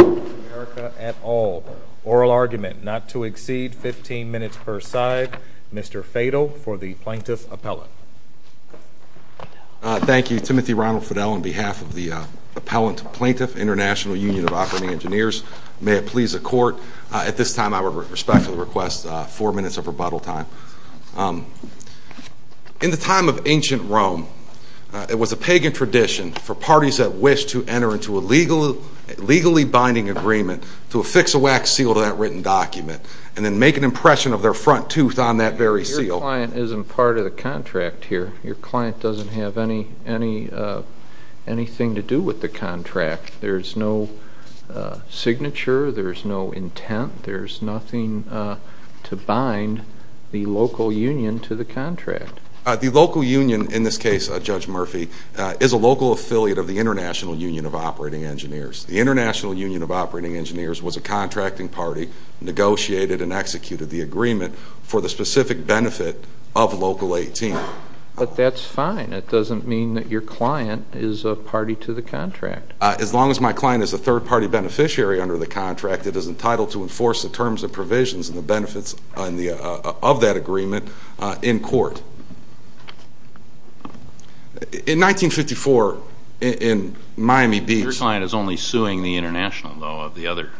of America at All. Oral argument not to exceed 15 minutes per side. Mr. Fadel for the Plaintiff Appellant. Thank you. Timothy Ronald Fidel on behalf of the Appellant to Plaintiff, International Union of Operating Engineers. May it please the Court, at this time I would respect the minutes of rebuttal time. In the time of ancient Rome, it was a pagan tradition for parties that wished to enter into a legally binding agreement to affix a wax seal to that written document and then make an impression of their front tooth on that very seal. Your client isn't part of the contract here. Your client doesn't have anything to do with the contract. There's no signature, there's no intent, there's nothing to bind the local union to the contract. The local union in this case, Judge Murphy, is a local affiliate of the International Union of Operating Engineers. The International Union of Operating Engineers was a contracting party, negotiated and executed the agreement for the specific benefit of Local 18. But that's fine. It doesn't mean that your client is a party to the contract. As long as my client is a third party beneficiary under the contract, it is entitled to enforce the terms and provisions and the benefits of that agreement in court. In 1954, in Miami Beach... Your client is only suing the International though, of the other...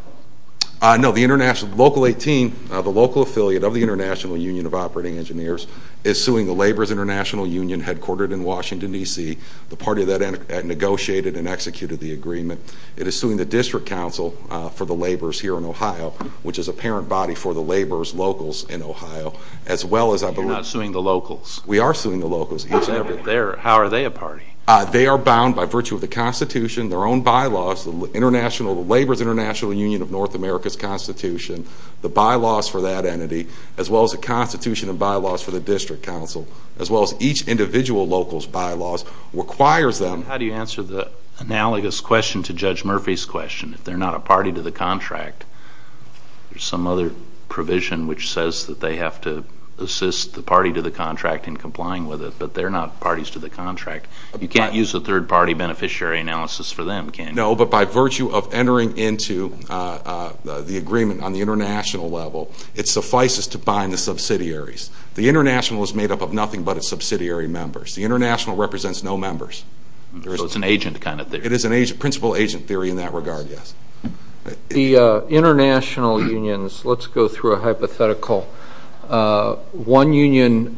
No, Local 18, the local affiliate of the International Union of Operating Engineers, is suing the Labor's International Union, headquartered in Washington, D.C., the party that negotiated and executed the agreement. It is suing the District Council for the laborers here in Ohio, which is a parent body for the laborers' locals in Ohio, as well as... You're not suing the locals? We are suing the locals. How are they a party? They are bound by virtue of the Constitution, their own bylaws, the Labor's International Union of North America's Constitution, the bylaws for that entity, as well as the Constitution and bylaws for the District Council, as well as each individual local's bylaws, requires them... How do you answer the analogous question to Judge Murphy's question? If they're not a party to the contract, there's some other provision which says that they have to assist the party to the contract in complying with it, but they're not parties to the contract. You can't use a third party beneficiary analysis for them, can you? No, but by virtue of entering into the agreement on the international level, it suffices to bind the subsidiaries. The international is made up of nothing but its subsidiary members. The international represents no members. So it's an agent kind of thing? It is a principal agent theory in that regard, yes. The international unions, let's go through a hypothetical. One union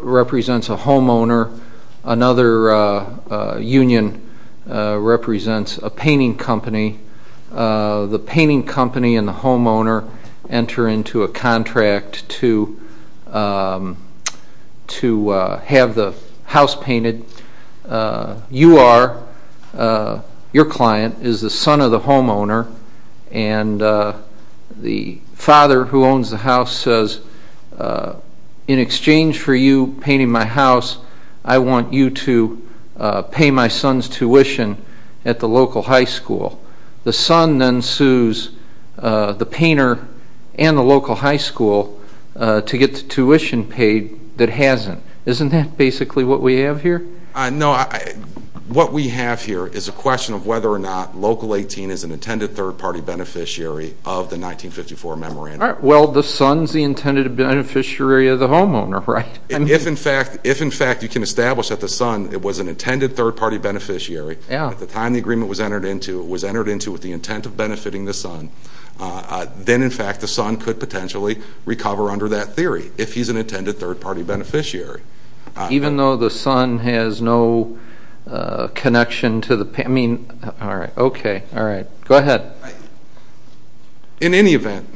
represents a homeowner. Another union represents a painting company. The painting company and the homeowner enter into a contract to have the house painted. You are, your client, is the son of the homeowner, and the father who owns the house says, in exchange for you painting my house, I want you to pay my son's tuition at the local high school. The son then sues the painter and the local high school to get the tuition paid that hasn't. Isn't that basically what we have here? No, what we have here is a question of whether or not Local 18 is an intended third party beneficiary of the 1954 memorandum. Well the son's the intended beneficiary of the homeowner, right? If in fact you can establish that the son was an intended third party beneficiary at the time the agreement was entered into with the intent of benefiting the son, then in fact the son could potentially recover under that theory if he's an intended third party beneficiary. Even though the son has no connection to the, I mean, all right, okay, all right. Go ahead. In any event,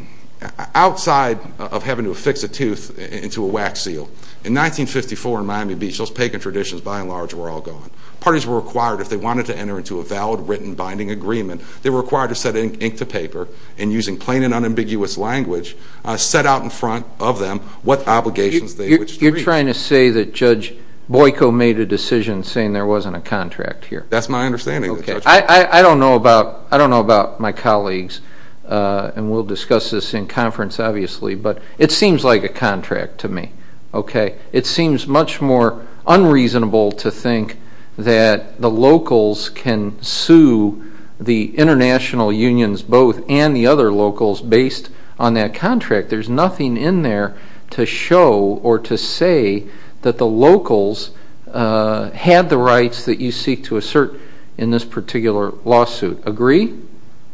outside of having to affix a tooth into a wax seal, in 1954 in Miami Beach, those pagan traditions by and large were all gone. Parties were required if they wanted to enter into a valid written binding agreement, they were required to set ink to paper and using plain and unambiguous language set out in front of them what obligations they wished to reach. You're trying to say that Judge Boyko made a decision saying there wasn't a contract here. That's my understanding of the judgment. I don't know about my colleagues, and we'll discuss this in conference obviously, but it seems like a contract to me, okay? It seems much more unreasonable to think that the locals can sue the international unions both and the other locals based on that contract. There's nothing in there to show or to say that the locals had the rights that you seek to assert in this particular lawsuit. Agree?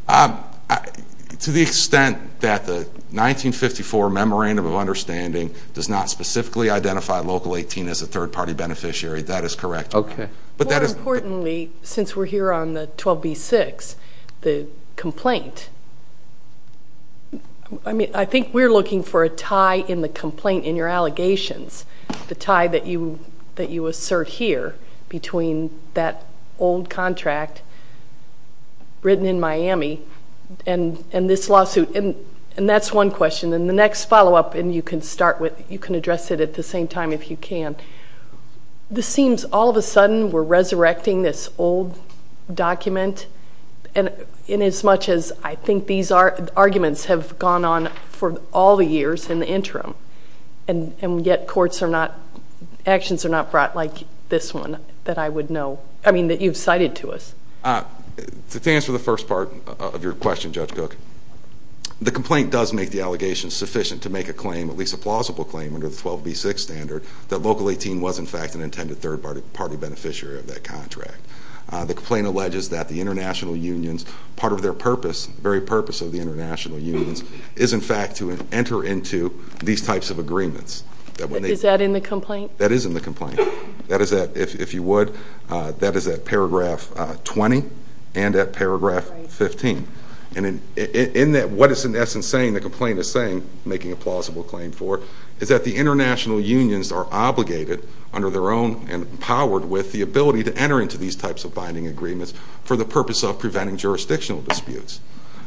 To the extent that the 1954 Memorandum of Understanding does not specifically identify Local 18 as a third party beneficiary, that is correct. Okay. More importantly, since we're here on the 12b-6, the complaint, I think we're looking for a tie in the complaint in your allegations, the tie that you assert here between that old contract written in Miami and this lawsuit. That's one question and the next follow up, and you can start with, you can address it at the same time if you can. This seems all of a sudden we're resurrecting this old document in as much as I think these arguments have gone on for all the years in the interim, and yet courts are not, actions are not brought like this one that I would know, I mean that you've cited to us. To answer the first part of your question, Judge Cook, the complaint does make the allegations sufficient to make a claim, at least a plausible claim under the 12b-6 standard, that Local 18 was in fact an intended third party beneficiary of that contract. The complaint alleges that the international unions, part of their purpose, the very purpose of the international unions, is in fact to enter into these types of agreements. Is that in the complaint? That is in the complaint. That is at, if you would, that is at paragraph 20 and at paragraph 15. And in that, what it's in essence saying, the complaint is saying, making a plausible claim for, is that the international unions are obligated under their own and empowered with the ability to enter into these types of binding agreements for the purpose of preventing jurisdictional disputes.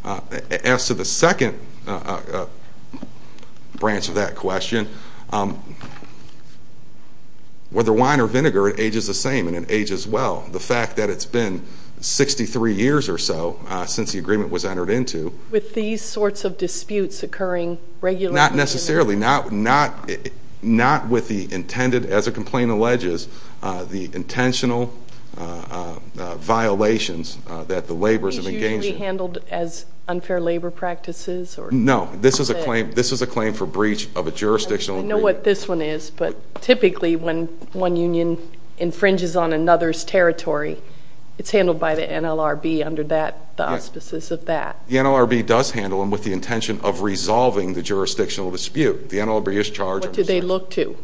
As to the second branch of that question, whether wine or vinegar, it ages the same and it ages well. The fact that it's been 63 years or so since the agreement was entered into. With these sorts of disputes occurring regularly in America? Not necessarily. Not with the intended, as the complaint alleges, the intentional violations that the laborers have engaged in. Are these usually handled as unfair labor practices? No. This is a claim, this is a claim for breach of a jurisdictional agreement. I know what this one is, but typically when one union infringes on another's territory, it's handled by the NLRB under that, the auspices of that. The NLRB does handle them with the intention of resolving the jurisdictional dispute. The NLRB is charged. What do they look to?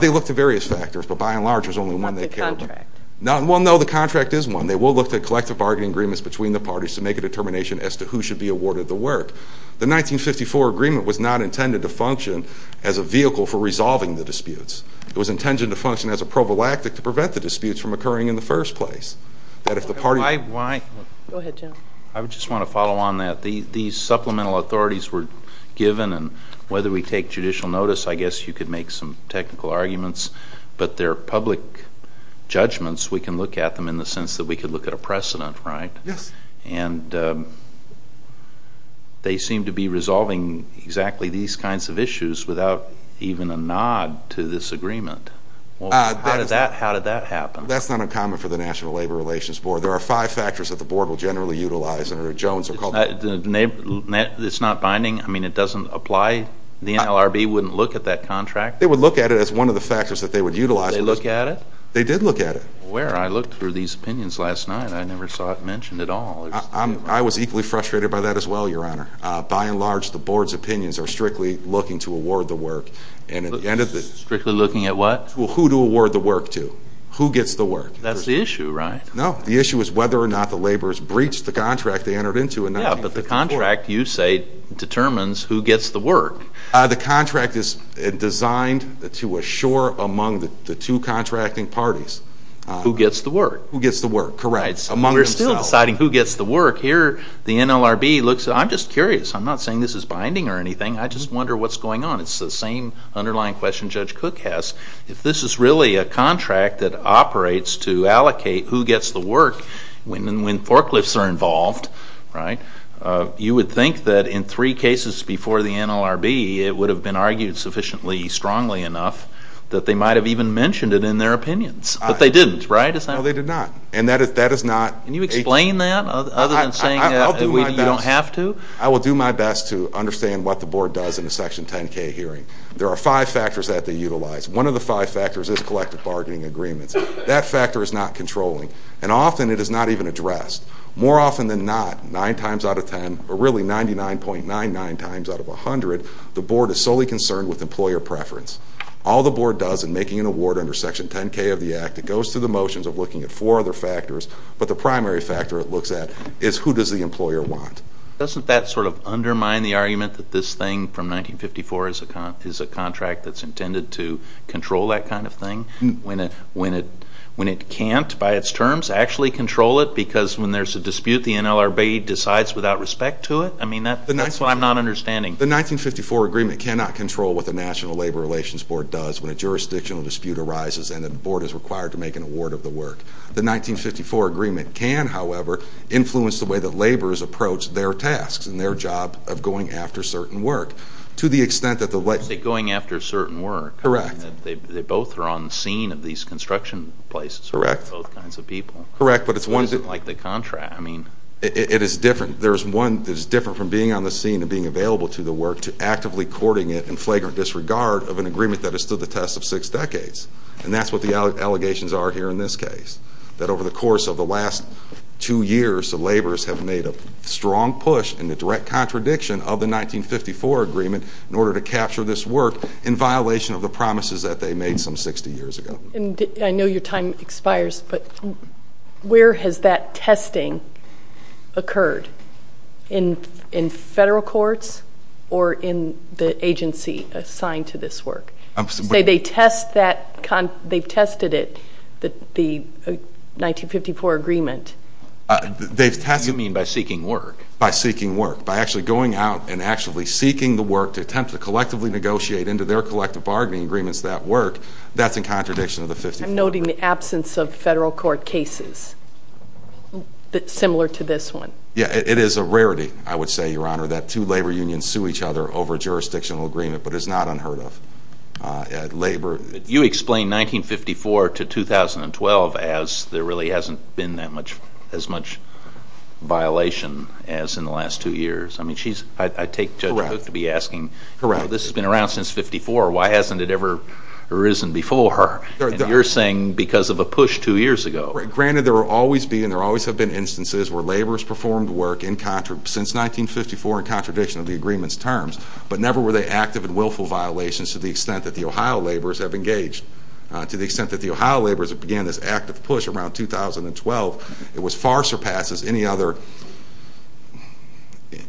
They look to various factors, but by and large there's only one they care about. Not the contract. Well, no, the contract is one. They will look to collective bargaining agreements between the parties to make a determination as to who should be awarded the work. The 1954 agreement was not intended to function as a vehicle for resolving the disputes. It was intended to function as a prophylactic to prevent the disputes from occurring in the first place. That if the party... Go ahead, Jim. I just want to follow on that. These supplemental authorities were given and whether we take judicial notice, I guess you could make some technical arguments, but they're public judgments. We can look at them in the sense that we could look at a precedent, right? Yes. And they seem to be resolving exactly these kinds of issues without even a nod to this agreement. How did that happen? That's not uncommon for the National Labor Relations Board. There are five factors that the board will generally utilize. It's not binding? I mean, it doesn't apply? The NLRB wouldn't look at that contract? They would look at it as one of the factors that they would utilize. Did they look at it? They did look at it. Where? I looked through these opinions last night. I never saw it mentioned at all. I was equally frustrated by that as well, Your Honor. By and large, the board's opinions are strictly looking to award the work. Strictly looking at what? Well, who to award the work to. Who gets the work? That's the issue, right? No. The issue is whether or not the laborers breached the contract they entered into in 1954. Yeah, but the contract, you say, determines who among the two contracting parties. Who gets the work? Who gets the work, correct. Among themselves. We're still deciding who gets the work. Here, the NLRB looks at it. I'm just curious. I'm not saying this is binding or anything. I just wonder what's going on. It's the same underlying question Judge Cook has. If this is really a contract that operates to allocate who gets the work when forklifts are involved, right, you would think that in three cases before the NLRB, it would have been argued sufficiently strongly enough that they might have even mentioned it in their opinions. But they didn't, right? No, they did not. And that is not. Can you explain that other than saying you don't have to? I will do my best to understand what the board does in a Section 10k hearing. There are five factors that they utilize. One of the five factors is collective bargaining agreements. That factor is not controlling. And often it is not even addressed. More often than not, nine times out of ten, or really 99.99 times out of 100, the board is solely concerned with employer preference. All the board does in making an award under Section 10k of the Act, it goes through the motions of looking at four other factors. But the primary factor it looks at is who does the employer want. Doesn't that sort of undermine the argument that this thing from 1954 is a contract that's intended to control that kind of thing? When it can't, by its terms, actually control it because when there's a dispute, the NLRB decides without respect to it? I mean, that's what I'm not understanding. The 1954 agreement cannot control what the National Labor Relations Board does when a jurisdictional dispute arises and the board is required to make an award of the work. The 1954 agreement can, however, influence the way that laborers approach their tasks and their job of going after certain work. To the extent that the... You say going after certain work. Correct. They both are on the scene of these construction places. Correct. For both kinds of people. Correct, but it's one... It's not like the contract. I mean... It is different. There's one that is different from being on the scene and being available to the work to actively courting it in flagrant disregard of an agreement that has stood the test of six decades. And that's what the allegations are here in this case. That over the course of the last two years, the laborers have made a strong push in the direct contradiction of the 1954 agreement in order to capture this work in violation of the promises that they made some 60 years ago. And I know your time expires, but where has that testing occurred? In federal courts or in the agency assigned to this work? Say they test that, they've tested it, the 1954 agreement. They've tested... You mean by seeking work? By seeking work. By actually going out and actually seeking the work to attempt to collectively negotiate into their collective bargaining agreements that work, that's in contradiction of the 54. I'm noting the absence of federal court cases similar to this one. Yeah, it is a rarity, I would say, Your Honor, that two labor unions sue each other over jurisdictional agreement, but it's not unheard of. Labor... You explain 1954 to 2012 as there really hasn't been that much... as much violation as in the last two years. I mean, she's... I take Judge Hook to be asking... She's been around since 54. Why hasn't it ever arisen before? And you're saying because of a push two years ago. Granted, there will always be and there always have been instances where laborers performed work since 1954 in contradiction of the agreement's terms, but never were they active and willful violations to the extent that the Ohio laborers have engaged. To the extent that the Ohio laborers began this active push around 2012, it far surpasses any other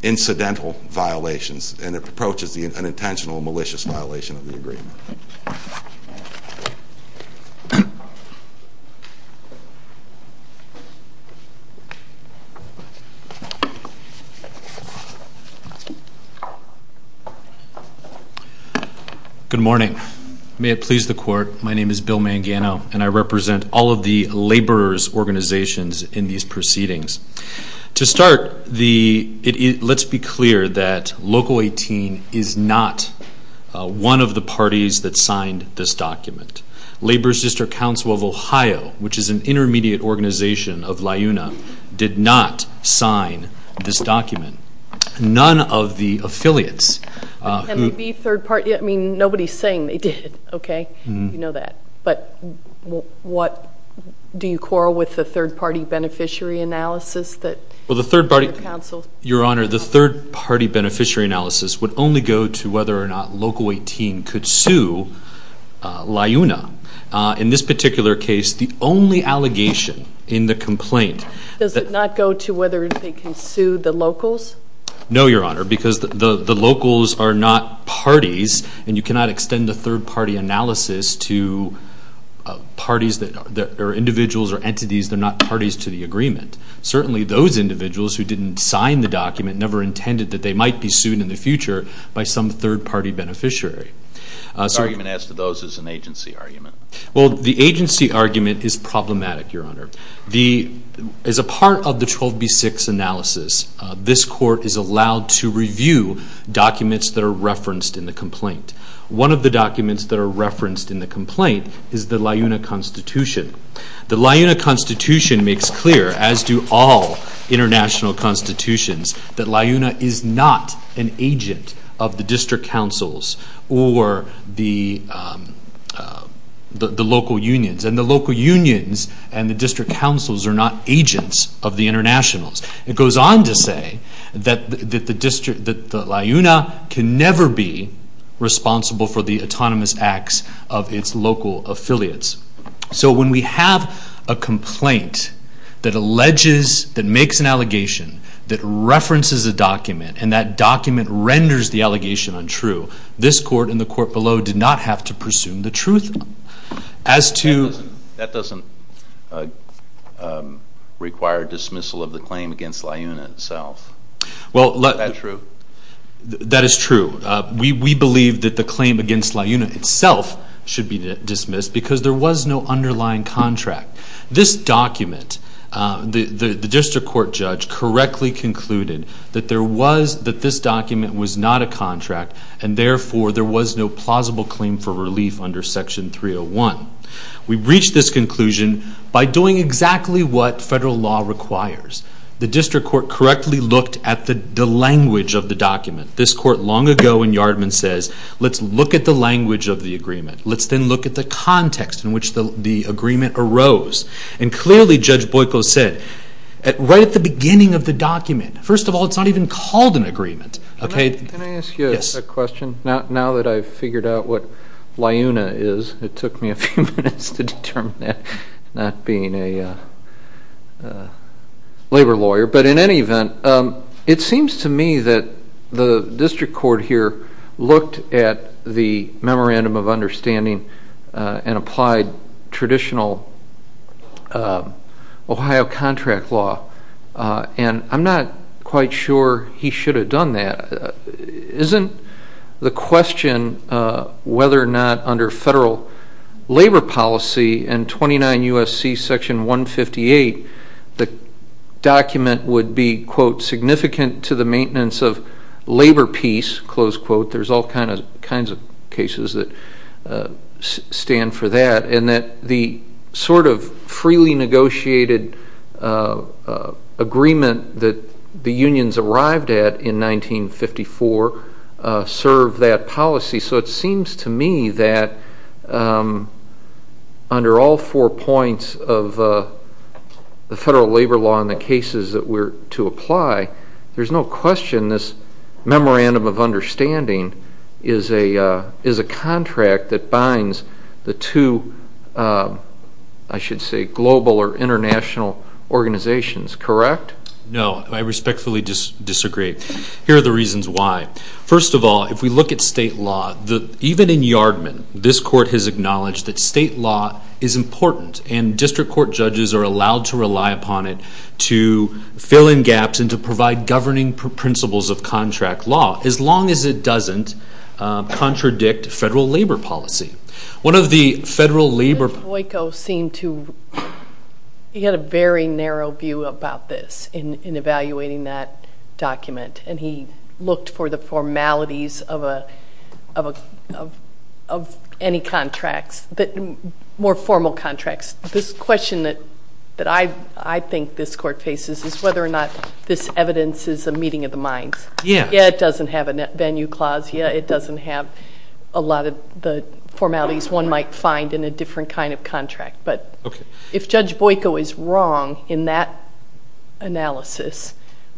incidental violations and it approaches the unintentional malicious violation of the agreement. Good morning. May it please the court, my name is Bill Mangano and I represent all of the laborers' organizations in these proceedings. To start, let's be clear that Local 18 is not one of the parties that signed this document. Labor's District Council of Ohio, which is an intermediate organization of LIUNA, did not sign this document. None of the affiliates... Can they be third party? I mean, nobody's saying they did, okay? You know that. But what do you quarrel with the third party beneficiary analysis that... Well, the third party... Your Honor, the third party beneficiary analysis would only go to whether or not Local 18 could sue LIUNA. In this particular case, the only allegation in the complaint... Does it not go to whether they can sue the locals? No, Your Honor, because the locals are not parties and you cannot extend the third party analysis to parties that are individuals or entities that are not parties to the agreement. Certainly those individuals who didn't sign the document never intended that they might be sued in the future by some third party beneficiary. The argument as to those is an agency argument. Well, the agency argument is problematic, Your Honor. As a part of the 12B6 analysis, this court is allowed to review documents that are referenced in the complaint. One of the documents that are referenced in the complaint is the LIUNA constitution. The LIUNA constitution makes clear, as do all international constitutions, that LIUNA is not an agent of the district councils or the local unions. And the local unions and the district councils are not agents of the internationals. It goes on to say that the LIUNA can never be responsible for the autonomous acts of its local affiliates. So when we have a complaint that alleges, that makes an allegation, that references a document and that document renders the allegation untrue, this court and the court below did not have to presume the truth as to... That is true. We believe that the claim against LIUNA itself should be dismissed because there was no underlying contract. This document, the district court judge correctly concluded that this document was not a contract and therefore there was no plausible claim for relief under Section 301. We've reached this conclusion by doing exactly what federal law requires. The district court correctly looked at the language of the document. This court long ago in Yardman says, let's look at the language of the agreement. Let's then look at the context in which the agreement arose. And clearly Judge Boyko said, right at the beginning of the document, first of all, it's not even called an agreement. Can I ask you a question? Now that I've figured out what LIUNA is, it took me a few minutes to determine that, not being a labor lawyer, but in any event, it seems to me that the district court here looked at the memorandum of understanding and applied traditional Ohio contract law. And I'm not quite sure he should have done that. Isn't the question whether or not under federal labor policy and 29 U.S.C. Section 158, the document would be quote significant to the maintenance of labor peace, close quote. There's all kinds of cases that stand for that. And that the sort of freely negotiated agreement that the unions arrived at in 1954 served that policy. So it seems to me that under all four points of the federal labor law and the cases that were to apply, there's no question this memorandum of understanding is a contract that binds the two, I should say, global or international organizations, correct? No, I respectfully disagree. Here are the reasons why. First of all, if we look at state law, even in Yardman, this court has acknowledged that state law is important and district court judges are allowed to rely upon it to fill in gaps and to provide governing principles of contract law, as long as it doesn't contradict federal labor policy. One of the federal labor law judges, he had a very narrow view about this in evaluating that document. And he looked for the formalities of any contracts, more formal contracts. This question that I think this court faces is whether or not this evidence is a meeting of the minds. Yeah, it doesn't have a net venue clause. Yeah, it doesn't have a lot of the formalities one might find in a different kind of contract. But if Judge Boyko is wrong in that analysis,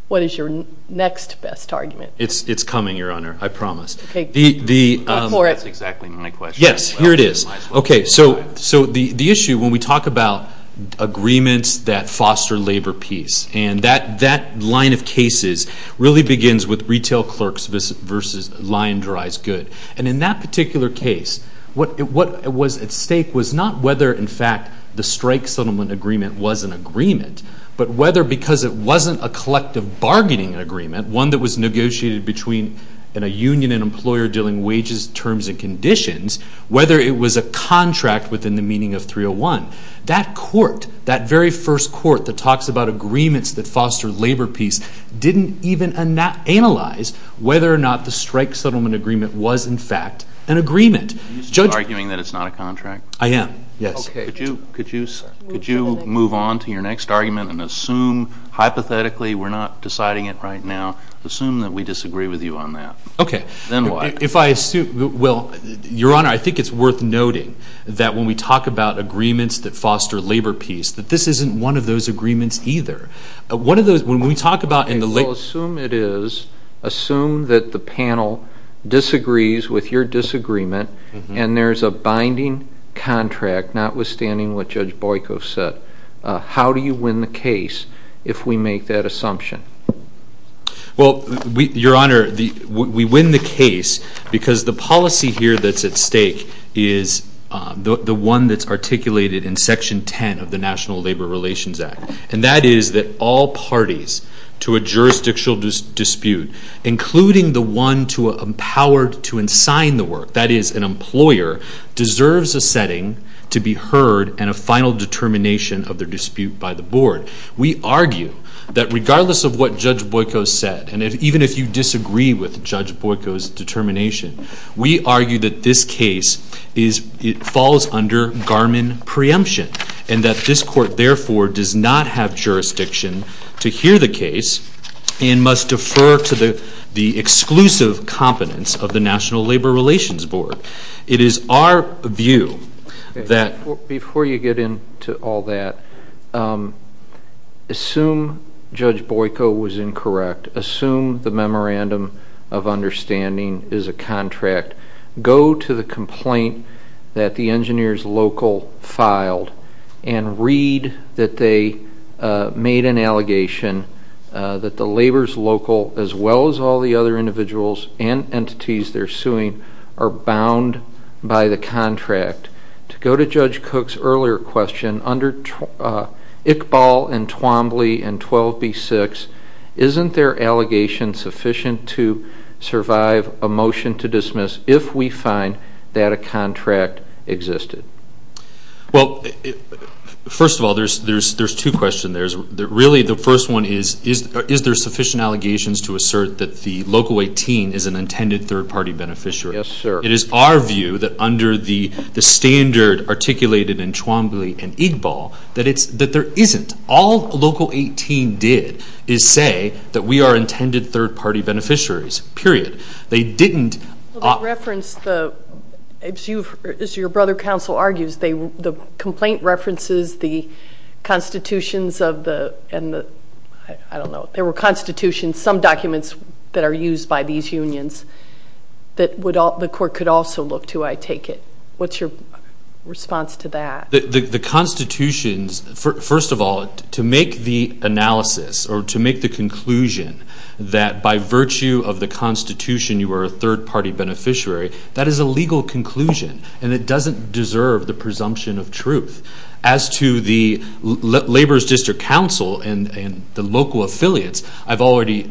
what is your next best argument? It's coming, Your Honor, I promise. That's exactly my question. So the issue when we talk about agreements that foster labor peace, and that line of cases really begins with retail clerks versus lye and dries good. And in that particular case, what was at stake was not whether, in fact, the strike settlement agreement was an agreement, but whether because it wasn't a collective bargaining agreement, one that was negotiated between a union and employer dealing wages, terms, and conditions, whether it was a contract within the meaning of 301. That court, that very first court that talks about agreements that foster labor peace didn't even analyze whether or not the strike settlement agreement was, in fact, an agreement. Are you still arguing that it's not a contract? I am, yes. Okay. Could you move on to your next argument and assume, hypothetically, we're not deciding it right now, assume that we disagree with you on that. Okay. Then what? If I assume, well, Your Honor, I think it's worth noting that when we talk about agreements that foster labor peace, that this isn't one of those agreements either. One of those, when we talk about in the... Okay, so assume it is, assume that the panel disagrees with your disagreement and there's a binding contract, notwithstanding what Judge Boyko said. How do you win the case if we make that assumption? Well, Your Honor, we win the case because the policy here that's at stake is the one that's articulated in Section 10 of the National Labor Relations Act, and that is that all parties to a jurisdictional dispute, including the one to empower to ensign the work, that is an employer, deserves a setting to be heard and a final determination of their dispute by the board. We argue that regardless of what Judge Boyko said, and even if you disagree with Judge Boyko's determination, we argue that this case is, it falls under Garmin preemption, and that this court therefore does not have jurisdiction to hear the case and must defer to the exclusive competence of the National Labor Relations Board. It is our view that... Before you get into all that, assume Judge Boyko was incorrect, assume the memorandum of understanding is a contract. Go to the complaint that the engineers local filed and read that they made an allegation that the labor's local, as well as all the other individuals and entities they're suing, are bound by the contract. To go to Judge Cook's earlier question, under Iqbal and Twombly and 12B6, isn't their allegation sufficient to survive a motion to dismiss if we find that a contract existed? Well, first of all, there's two questions there. Really, the first one is, is there sufficient allegations to assert that the local 18 is an intended third-party beneficiary? Yes, sir. It is our view that under the standard articulated in Twombly and Iqbal, that there isn't. All local 18 did is say that we are intended third-party beneficiaries, period. They didn't... Well, they referenced the... As your brother counsel argues, the complaint references the constitutions of the... I don't know. There were constitutions, some documents that are legal. You could also look to, I take it. What's your response to that? The constitutions... First of all, to make the analysis or to make the conclusion that by virtue of the constitution, you are a third-party beneficiary, that is a legal conclusion and it doesn't deserve the presumption of truth. As to the Labor's District Council and the local affiliates, I've already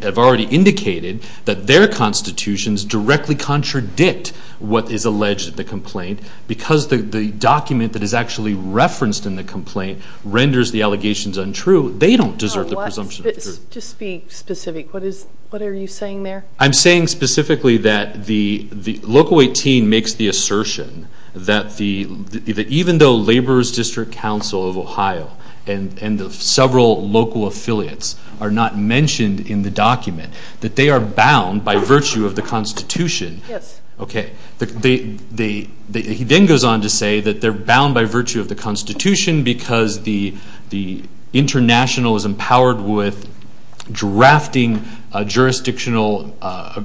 indicated that their constitutions directly contradict what is alleged in the complaint because the document that is actually referenced in the complaint renders the allegations untrue. They don't deserve the presumption of truth. Just be specific. What are you saying there? I'm saying specifically that the local 18 makes the assertion that even though Labor's District Council of Ohio and the several local affiliates are not mentioned in the document, that they are bound by virtue of the constitution. Yes. Okay. He then goes on to say that they're bound by virtue of the constitution because the international is empowered with drafting jurisdictional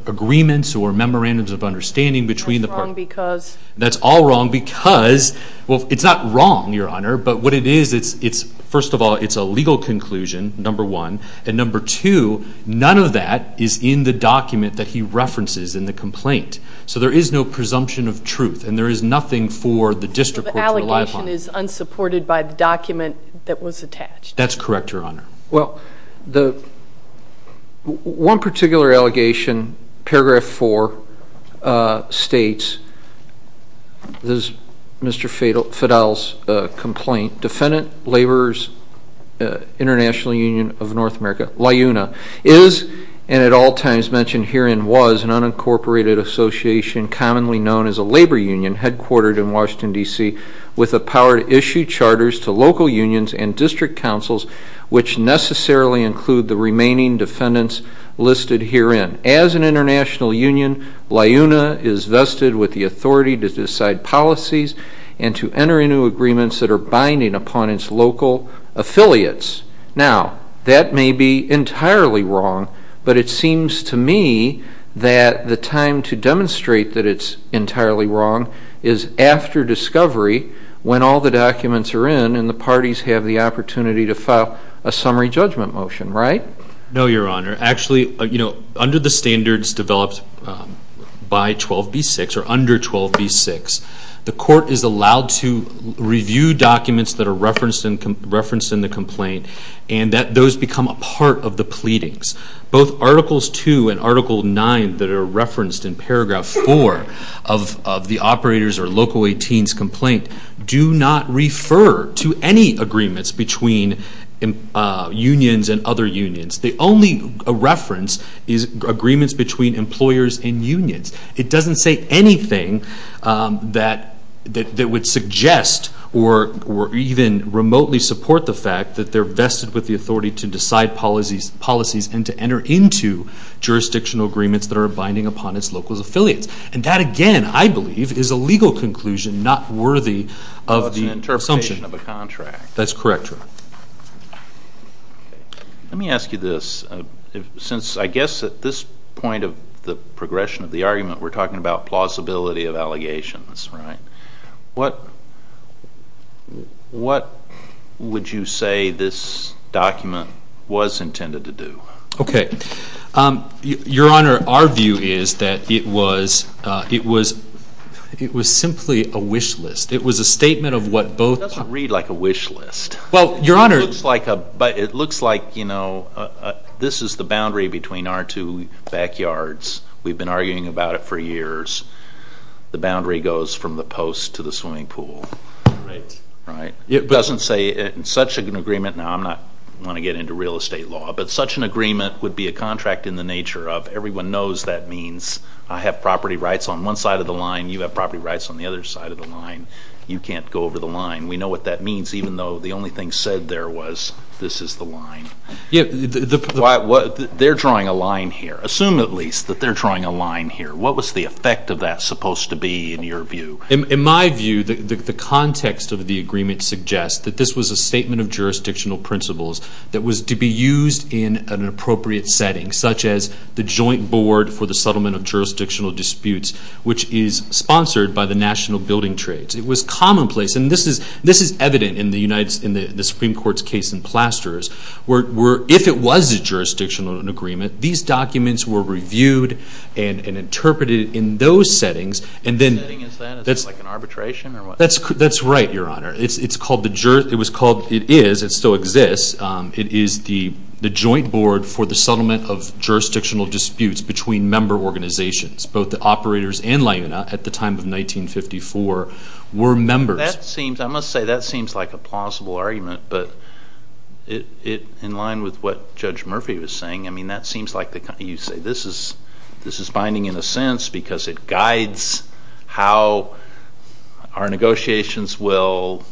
agreements or memorandums of understanding between the parties. That's wrong because... That's all wrong because, well, it's not wrong, Your Honor, but what it is, it's first of all, it's a legal conclusion, number one, and number two, none of that is in the document that he references in the complaint. So there is no presumption of truth and there is nothing for the district court to rely upon. The allegation is unsupported by the document that was attached. That's correct, Your Honor. Well, one particular allegation, paragraph four, states, this is Mr. Fidel's complaint, Defendant Labor's International Union of North America, LIUNA, is and at all times mentioned herein was an unincorporated association commonly known as a labor union headquartered in Washington, D.C. with the power to issue charters to local unions and district councils which necessarily include the remaining defendants listed herein. As an international union, LIUNA is vested with the authority to decide policies and to enter into agreements that are binding upon its local affiliates. Now, that may be entirely wrong, but it seems to me that the time to demonstrate that it's when all the documents are in and the parties have the opportunity to file a summary judgment motion, right? No, Your Honor. Actually, under the standards developed by 12b6 or under 12b6, the court is allowed to review documents that are referenced in the complaint and that those become a part of the pleadings. Both articles two and article nine that are referenced in paragraph four of the operator's local 18's complaint do not refer to any agreements between unions and other unions. The only reference is agreements between employers and unions. It doesn't say anything that would suggest or even remotely support the fact that they're vested with the authority to decide policies and to enter into jurisdictional agreements that are binding upon its local affiliates. And that again, I believe, is a legal conclusion not worthy of the assumption. Well, it's an interpretation of a contract. That's correct, Your Honor. Let me ask you this. Since I guess at this point of the progression of the argument we're talking about plausibility of allegations, right? What would you say this document was intended to do? Okay. Your Honor, our view is that it was simply a wish list. It was a statement of what both- It doesn't read like a wish list. Well, Your Honor- It looks like a, but it looks like, you know, this is the boundary between our two backyards. We've been arguing about it for years. The boundary goes from the post to the swimming pool. Right. Right? It doesn't say, in such an agreement, now I'm not going to get into real estate law, but such an agreement would be a contract in the nature of everyone knows that means I have property rights on one side of the line. You have property rights on the other side of the line. You can't go over the line. We know what that means even though the only thing said there was this is the line. They're drawing a line here. Assume at least that they're drawing a line here. What was the effect of that supposed to be in your view? principles that was to be used in an appropriate setting, such as the joint board for the settlement of jurisdictional disputes, which is sponsored by the National Building Trades. It was commonplace, and this is evident in the Supreme Court's case in Plasters, where if it was a jurisdictional agreement, these documents were reviewed and interpreted in those settings, and then- What setting is that? Is that like an arbitration or what? That's right, Your Honor. It's called the- It was called- It is. It still exists. It is the joint board for the settlement of jurisdictional disputes between member organizations. Both the operators and LIUNA at the time of 1954 were members. That seems- I must say that seems like a plausible argument, but in line with what Judge Murphy was saying, I mean, that seems like- You say this is binding in a sense because it guides how our negotiations will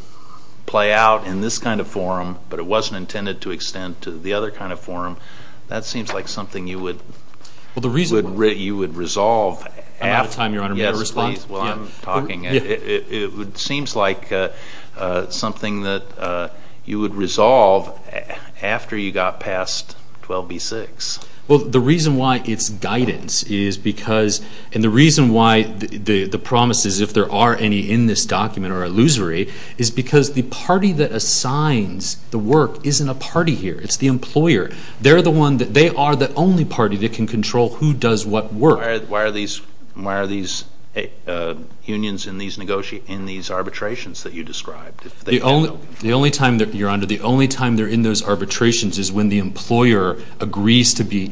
play out in this kind of forum, but it wasn't intended to extend to the other kind of forum. That seems like something you would- Well, the reason- You would resolve after- I'm out of time, Your Honor. I'm going to respond. Yes, please. While I'm talking, it seems like something that you would resolve after you got past 12b-6. Well, the reason why it's guidance is because- And the reason why the promises, if there are any in this document or illusory, is because the party that assigns the work isn't a party here. It's the employer. They're the one that- They are the only party that can control who does what work. Why are these unions in these arbitrations that you described? The only time that- Your Honor, the only time they're in those arbitrations is when the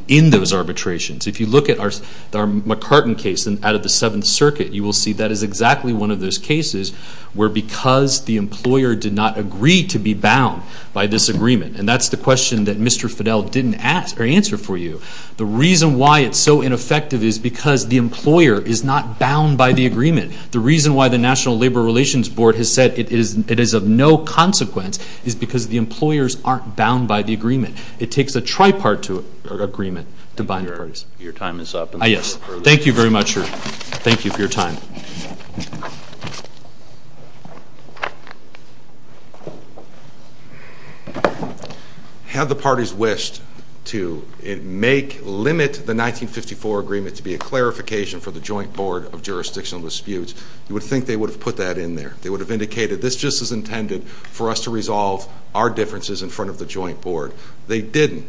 in those arbitrations. If you look at our McCartan case out of the Seventh Circuit, you will see that is exactly one of those cases where because the employer did not agree to be bound by this agreement, and that's the question that Mr. Fidel didn't ask or answer for you. The reason why it's so ineffective is because the employer is not bound by the agreement. The reason why the National Labor Relations Board has said it is of no consequence is because the employers aren't bound by the agreement. It takes a tripartite agreement to bind parties. Your time is up. Yes. Thank you very much, sir. Thank you for your time. Had the parties wished to make, limit the 1954 agreement to be a clarification for the Joint Board of Jurisdictional Disputes, you would think they would have put that in there. They would have indicated, this just is intended for us to resolve our differences in front of the Joint Board. They didn't.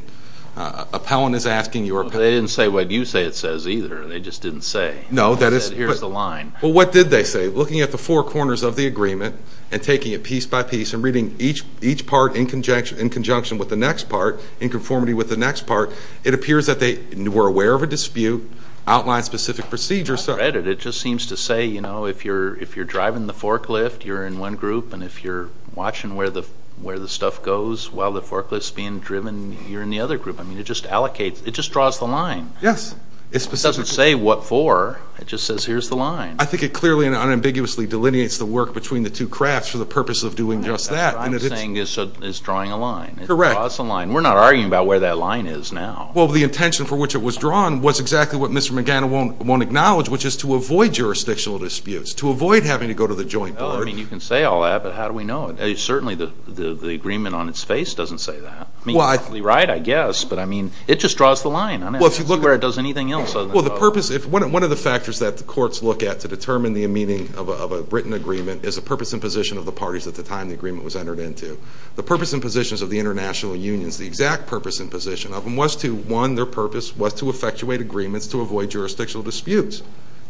Appellant is asking your opinion. They didn't say what you say it says either. They just didn't say. No, that is. They said, here's the line. Well, what did they say? Looking at the four corners of the agreement and taking it piece by piece and reading each part in conjunction with the next part, in conformity with the next part, it appears that they were aware of a dispute, outlined specific procedures. I read it. It just seems to say, you know, if you're driving the forklift, you're in one group, and if you're watching where the stuff goes while the forklift is being driven, you're in the other group. I mean, it just allocates, it just draws the line. Yes. It doesn't say what for, it just says, here's the line. I think it clearly and unambiguously delineates the work between the two crafts for the purpose of doing just that. What I'm saying is, it's drawing a line. Correct. It draws a line. We're not arguing about where that line is now. Well, the intention for which it was drawn was exactly what Mr. McGannon won't acknowledge, which is to avoid jurisdictional disputes, to avoid having to go to the Joint Board. Well, I mean, you can say all that, but how do we know it? Certainly the agreement on its face doesn't say that. I mean, you're probably right, I guess, but I mean, it just draws the line. I mean, I don't see where it does anything else other than that. Well, the purpose, one of the factors that the courts look at to determine the meaning of a written agreement is a purpose and position of the parties at the time the agreement was entered into. The purpose and positions of the international unions, the exact purpose and position of them was to, one, their purpose was to effectuate agreements to avoid jurisdictional disputes.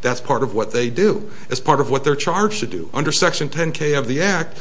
That's part of what they do. It's part of what they're charged to do. Under Section 10K of the Act,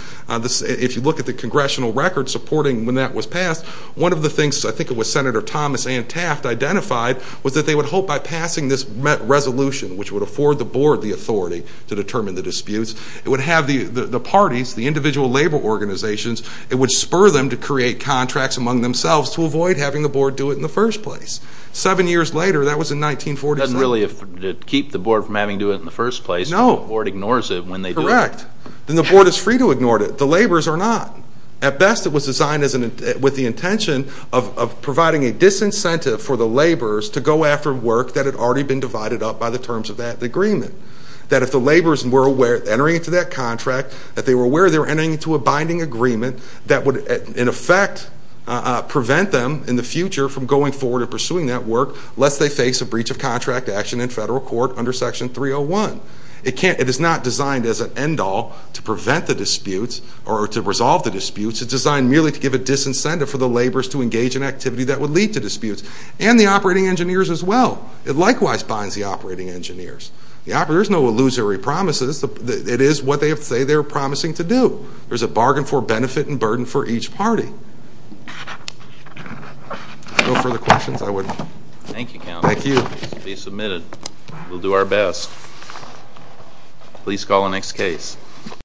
if you look at the congressional record supporting when that was passed, one of the things, I think it was Senator Thomas and Taft identified, was that they would hope by passing this resolution, which would afford the board the authority to determine the disputes, it would have the parties, the individual labor organizations, it would spur them to create contracts among themselves to avoid having the board do it in the first place. Seven years later, that was in 1943. It doesn't really keep the board from having to do it in the first place. No. So the board ignores it when they do it. Correct. Then the board is free to ignore it. The laborers are not. At best, it was designed with the intention of providing a disincentive for the laborers to go after work that had already been divided up by the terms of that agreement. That if the laborers were aware, entering into that contract, that they were aware they were entering into a binding agreement that would, in effect, prevent them in the future from going forward and pursuing that work lest they face a breach of contract action in federal court under Section 301. It is not designed as an end-all to prevent the disputes or to resolve the disputes. It's designed merely to give a disincentive for the laborers to engage in activity that would lead to disputes. And the operating engineers as well. It likewise binds the operating engineers. The operators know illusory promises. It is what they say they're promising to do. There's a bargain for benefit and burden for each party. If there are no further questions, I would... Thank you, Counselor. Thank you. This will be submitted. We'll do our best. Please call the next case.